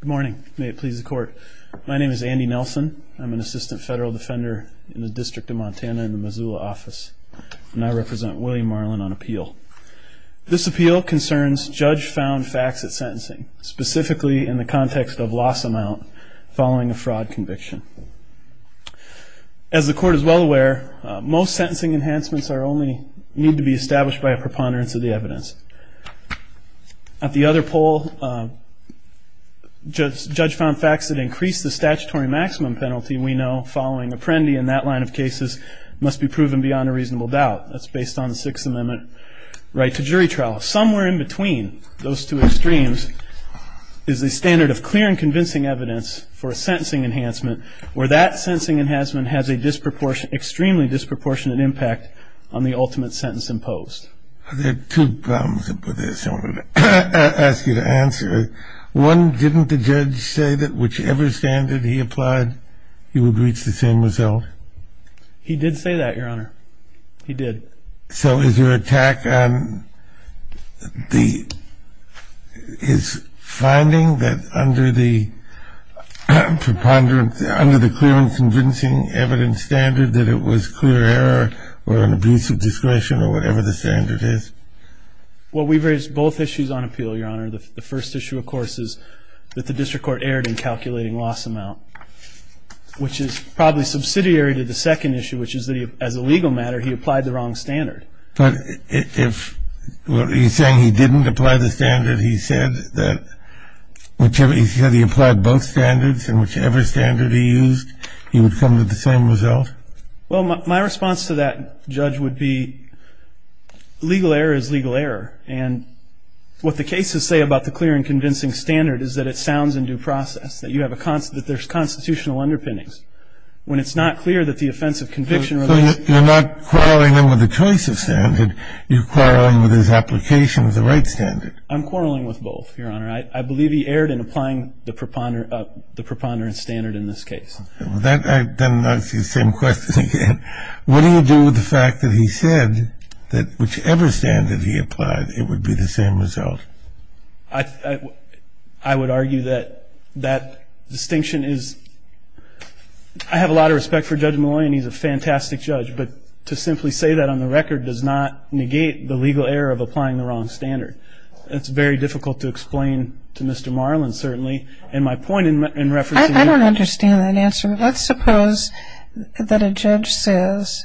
Good morning. May it please the court. My name is Andy Nelson. I'm an assistant federal defender in the District of Montana in the Missoula office, and I represent William Marlin on appeal. This appeal concerns judge found facts at sentencing, specifically in the context of loss amount following a fraud conviction. As the court is well aware, most sentencing enhancements need to be established by a preponderance of the evidence. At the other poll, judge found facts that increase the statutory maximum penalty we know following apprendi in that line of cases must be proven beyond a reasonable doubt. That's based on the Sixth Amendment right to jury trial. Somewhere in between those two extremes is a standard of clear and convincing evidence for a sentencing enhancement, where that sentencing enhancement has an extremely disproportionate impact on the ultimate sentence imposed. There are two problems with this I want to ask you to answer. One, didn't the judge say that whichever standard he applied, he would reach the same result? He did say that, Your Honor. He did. So is your attack on his finding that under the clear and convincing evidence standard that it was clear error or an abuse of discretion or whatever the standard is? Well, we've raised both issues on appeal, Your Honor. The first issue, of course, is that the district court erred in calculating loss amount, which is probably subsidiary to the second issue, which is that as a legal matter, he applied the wrong standard. But if he's saying he didn't apply the standard, he said that he applied both standards, and whichever standard he used, he would come to the same result? Well, my response to that, Judge, would be legal error is legal error. And what the cases say about the clear and convincing standard is that it sounds in due process, that there's constitutional underpinnings. When it's not clear that the offensive conviction relation... So you're not quarreling him with the choice of standard. You're quarreling with his application of the right standard. I'm quarreling with both, Your Honor. I believe he erred in applying the preponderance standard in this case. Then I see the same question again. What do you do with the fact that he said that whichever standard he applied, it would be the same result? I would argue that that distinction is... I have a lot of respect for Judge Malloy, and he's a fantastic judge. But to simply say that on the record does not negate the legal error of applying the wrong standard. It's very difficult to explain to Mr. Marlin, certainly. And my point in reference to... I don't understand that answer. Let's suppose that a judge says,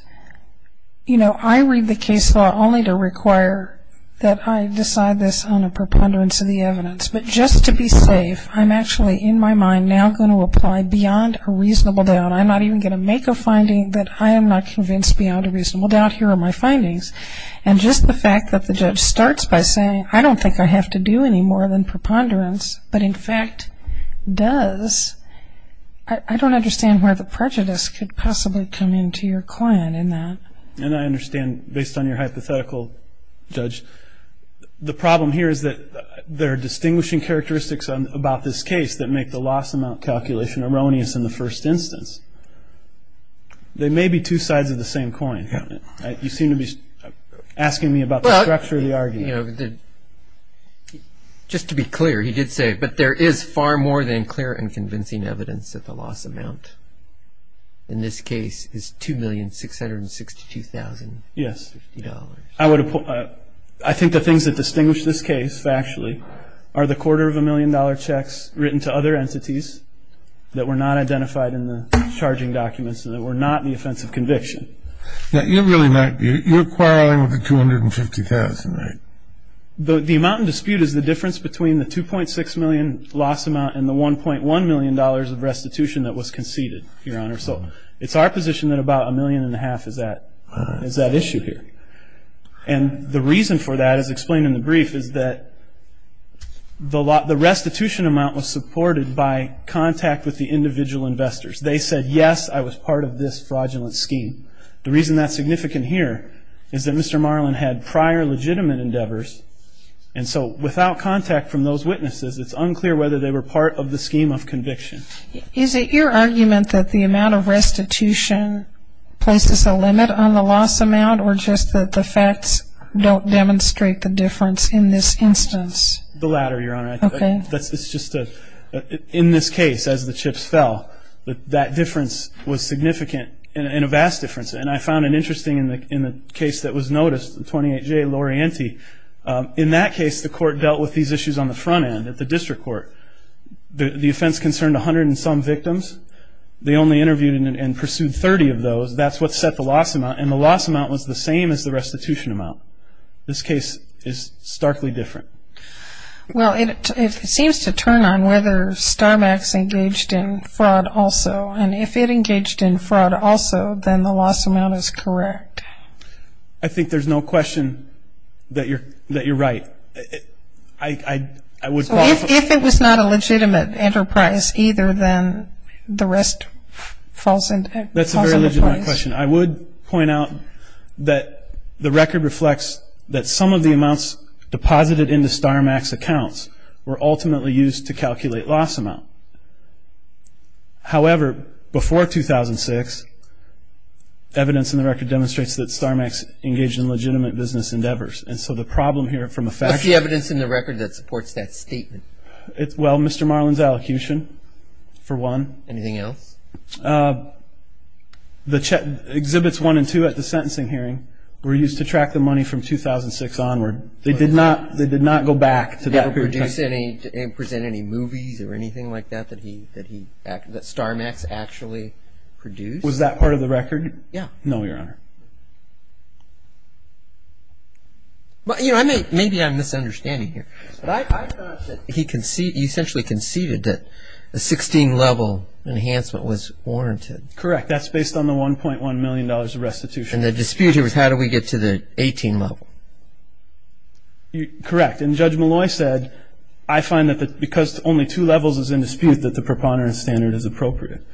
you know, I read the case law only to require that I decide this on a preponderance of the evidence. But just to be safe, I'm actually in my mind now going to apply beyond a reasonable doubt. I'm not even going to make a finding that I am not convinced beyond a reasonable doubt. Here are my findings. And just the fact that the judge starts by saying, I don't think I have to do any more than preponderance, but in fact does, I don't understand where the prejudice could possibly come into your coin in that. And I understand, based on your hypothetical, Judge, the problem here is that there are distinguishing characteristics about this case that make the loss amount calculation erroneous in the first instance. They may be two sides of the same coin. You seem to be asking me about the structure of the argument. Just to be clear, he did say, but there is far more than clear and convincing evidence that the loss amount in this case is $2,662,050. I think the things that distinguish this case factually are the quarter of a million dollar checks written to other entities that were not identified in the charging documents You're quarreling with the $250,000, right? The amount in dispute is the difference between the $2.6 million loss amount and the $1.1 million of restitution that was conceded, Your Honor. So it's our position that about a million and a half is that issue here. And the reason for that, as explained in the brief, is that the restitution amount was supported by contact with the individual investors. They said, yes, I was part of this fraudulent scheme. The reason that's significant here is that Mr. Marlin had prior legitimate endeavors, and so without contact from those witnesses, it's unclear whether they were part of the scheme of conviction. Is it your argument that the amount of restitution places a limit on the loss amount or just that the facts don't demonstrate the difference in this instance? The latter, Your Honor. Okay. In this case, as the chips fell, that difference was significant and a vast difference, and I found it interesting in the case that was noticed, the 28J Lorienti. In that case, the court dealt with these issues on the front end at the district court. The offense concerned 100 and some victims. They only interviewed and pursued 30 of those. That's what set the loss amount, and the loss amount was the same as the restitution amount. This case is starkly different. Well, it seems to turn on whether Starmax engaged in fraud also, and if it engaged in fraud also, then the loss amount is correct. I think there's no question that you're right. If it was not a legitimate enterprise either, then the rest falls into place. That's a very legitimate question. I would point out that the record reflects that some of the amounts deposited into Starmax accounts were ultimately used to calculate loss amount. However, before 2006, evidence in the record demonstrates that Starmax engaged in legitimate business endeavors, and so the problem here from a fact... What's the evidence in the record that supports that statement? Well, Mr. Marlin's allocution, for one. Anything else? Exhibits 1 and 2 at the sentencing hearing were used to track the money from 2006 onward. They did not go back to that period of time. Did he ever present any movies or anything like that that Starmax actually produced? Was that part of the record? Yeah. No, Your Honor. Maybe I'm misunderstanding here, but I thought that he essentially conceded that the 16-level enhancement was warranted. Correct. That's based on the $1.1 million restitution. And the dispute here was how do we get to the 18-level? Correct. And Judge Malloy said, I find that because only two levels is in dispute that the preponderance standard is appropriate.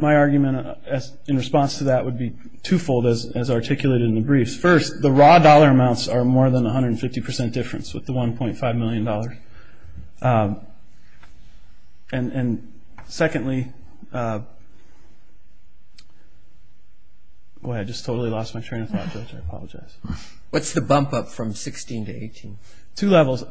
My argument in response to that would be twofold as articulated in the briefs. First, the raw dollar amounts are more than 150% difference with the $1.5 million. And secondly, boy, I just totally lost my train of thought, Judge, I apologize. What's the bump up from 16 to 18? Two levels.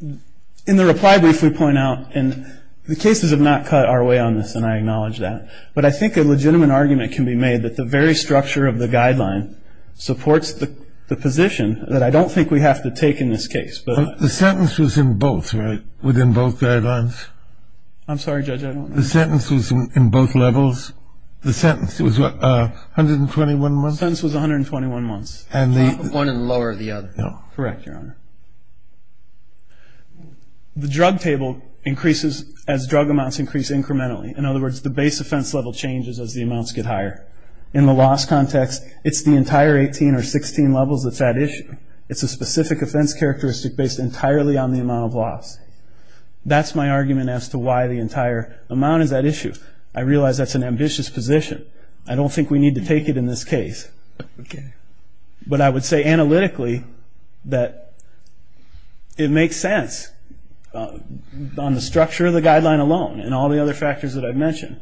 In the reply brief we point out, and the cases have not cut our way on this, and I acknowledge that, but I think a legitimate argument can be made that the very structure of the guideline supports the position that I don't think we have to take in this case. The sentence was in both, right, within both guidelines? I'm sorry, Judge, I don't know. The sentence was in both levels? The sentence was what, 121 months? The sentence was 121 months. One and lower the other. Correct, Your Honor. The drug table increases as drug amounts increase incrementally. In other words, the base offense level changes as the amounts get higher. In the loss context, it's the entire 18 or 16 levels that's at issue. It's a specific offense characteristic based entirely on the amount of loss. That's my argument as to why the entire amount is at issue. I realize that's an ambitious position. I don't think we need to take it in this case. But I would say analytically that it makes sense on the structure of the guideline alone and all the other factors that I've mentioned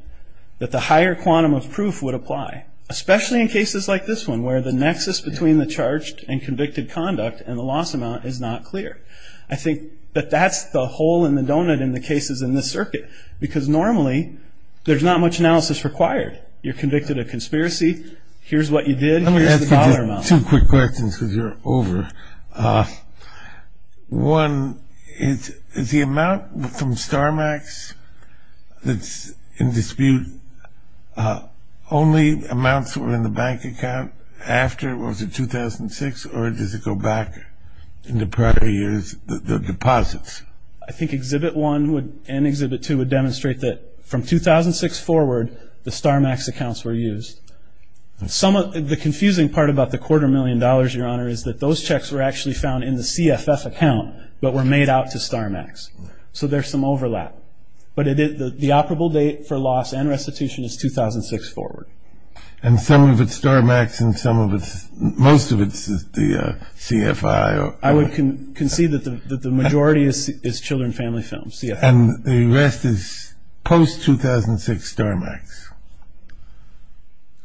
that the higher quantum of proof would apply, especially in cases like this one where the nexus between the charged and convicted conduct and the loss amount is not clear. I think that that's the hole in the donut in the cases in this circuit because normally there's not much analysis required. You're convicted of conspiracy. Here's what you did. Here's the dollar amount. Let me ask you two quick questions because you're over. One, is the amount from Starmax that's in dispute only amounts that were in the bank account after? Was it 2006? Or does it go back in the prior years, the deposits? I think Exhibit 1 and Exhibit 2 would demonstrate that from 2006 forward, the Starmax accounts were used. The confusing part about the quarter million dollars, Your Honor, is that those checks were actually found in the CFF account but were made out to Starmax. So there's some overlap. But the operable date for loss and restitution is 2006 forward. And some of it's Starmax and some of it's, most of it's the CFI? I would concede that the majority is children family films. And the rest is post-2006 Starmax?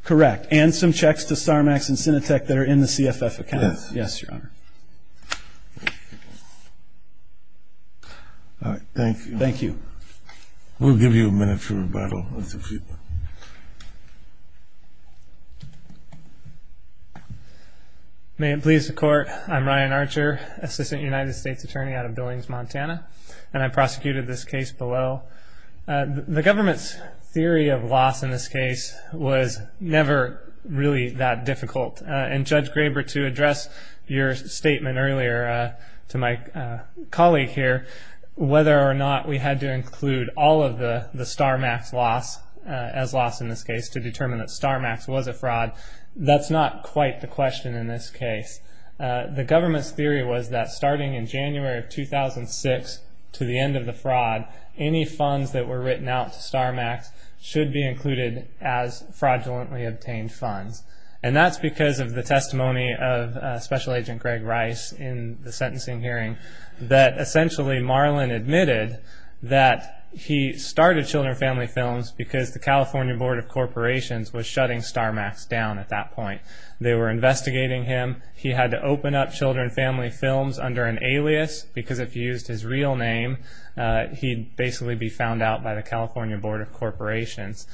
Correct. And some checks to Starmax and Cinetec that are in the CFF account. Yes. Yes, Your Honor. All right. Thank you. Thank you. We'll give you a minute for rebuttal. May it please the Court. I'm Ryan Archer, Assistant United States Attorney out of Billings, Montana, and I prosecuted this case below. The government's theory of loss in this case was never really that difficult. And Judge Graber, to address your statement earlier to my colleague here, whether or not we had to include all of the Starmax loss as loss in this case to determine that Starmax was a fraud, that's not quite the question in this case. The government's theory was that starting in January of 2006 to the end of the fraud, any funds that were written out to Starmax should be included as fraudulently obtained funds. And that's because of the testimony of Special Agent Greg Rice in the sentencing hearing that essentially Marlin admitted that he started children family films because the California Board of Corporations was shutting Starmax down at that point. They were investigating him. He had to open up children family films under an alias because if he used his real name, he'd basically be found out by the California Board of Corporations.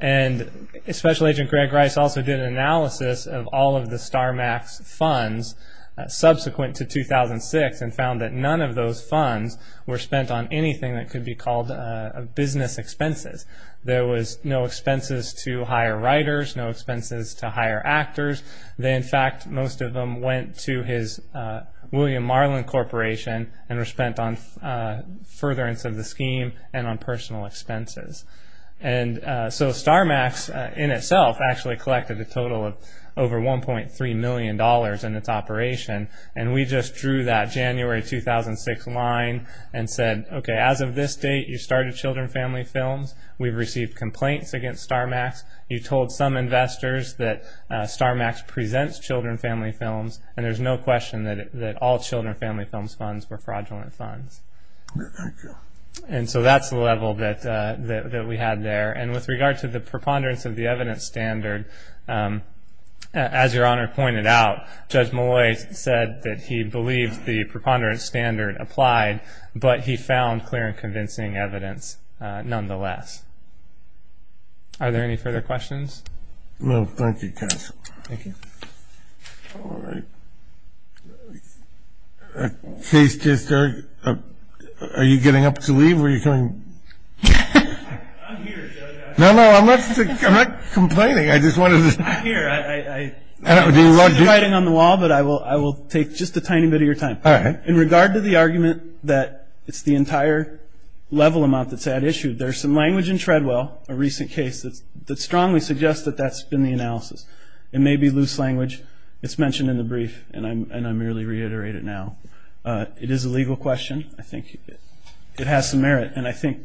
And Special Agent Greg Rice also did an analysis of all of the Starmax funds subsequent to 2006 and found that none of those funds were spent on anything that could be called business expenses. There was no expenses to hire writers, no expenses to hire actors. In fact, most of them went to his William Marlin Corporation and were spent on furtherance of the scheme and on personal expenses. And so Starmax in itself actually collected a total of over $1.3 million in its operation, and we just drew that January 2006 line and said, okay, as of this date, you started children family films. We've received complaints against Starmax. You told some investors that Starmax presents children family films, and there's no question that all children family films funds were fraudulent funds. And so that's the level that we had there. And with regard to the preponderance of the evidence standard, as Your Honor pointed out, Judge Malloy said that he believes the preponderance standard applied, but he found clear and convincing evidence nonetheless. Are there any further questions? No, thank you, counsel. Thank you. All right. Case just started. Are you getting up to leave or are you coming? I'm here, Judge. No, no, I'm not complaining. I just wanted to. I'm here. I see the writing on the wall, but I will take just a tiny bit of your time. All right. In regard to the argument that it's the entire level amount that's at issue, there's some language in Treadwell, a recent case, that strongly suggests that that's been the analysis. It may be loose language. It's mentioned in the brief, and I merely reiterate it now. It is a legal question. I think it has some merit, and I think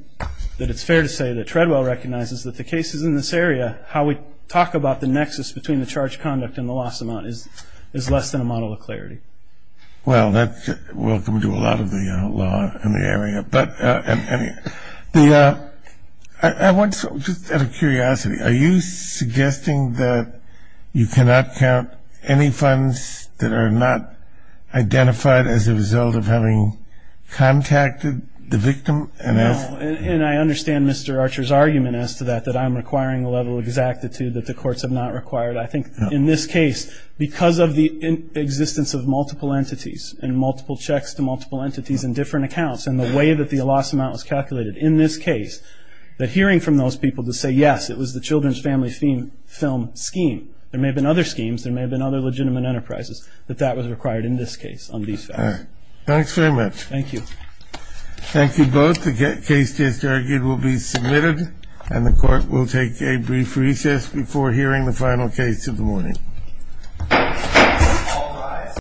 that it's fair to say that Treadwell recognizes that the cases in this area, how we talk about the nexus between the charge conduct and the loss amount is less than a model of clarity. Well, that's welcome to a lot of the law in the area. But I want, just out of curiosity, are you suggesting that you cannot count any funds that are not identified as a result of having contacted the victim? No, and I understand Mr. Archer's argument as to that, that I'm requiring a level of exactitude that the courts have not required. I think in this case, because of the existence of multiple entities and multiple checks to multiple entities and different accounts and the way that the loss amount was calculated in this case, that hearing from those people to say, yes, it was the children's family film scheme, there may have been other schemes, there may have been other legitimate enterprises, that that was required in this case on these families. All right. Thanks very much. Thank you. Thank you both. The case just argued will be submitted, and the court will take a brief recess before hearing the final case of the morning.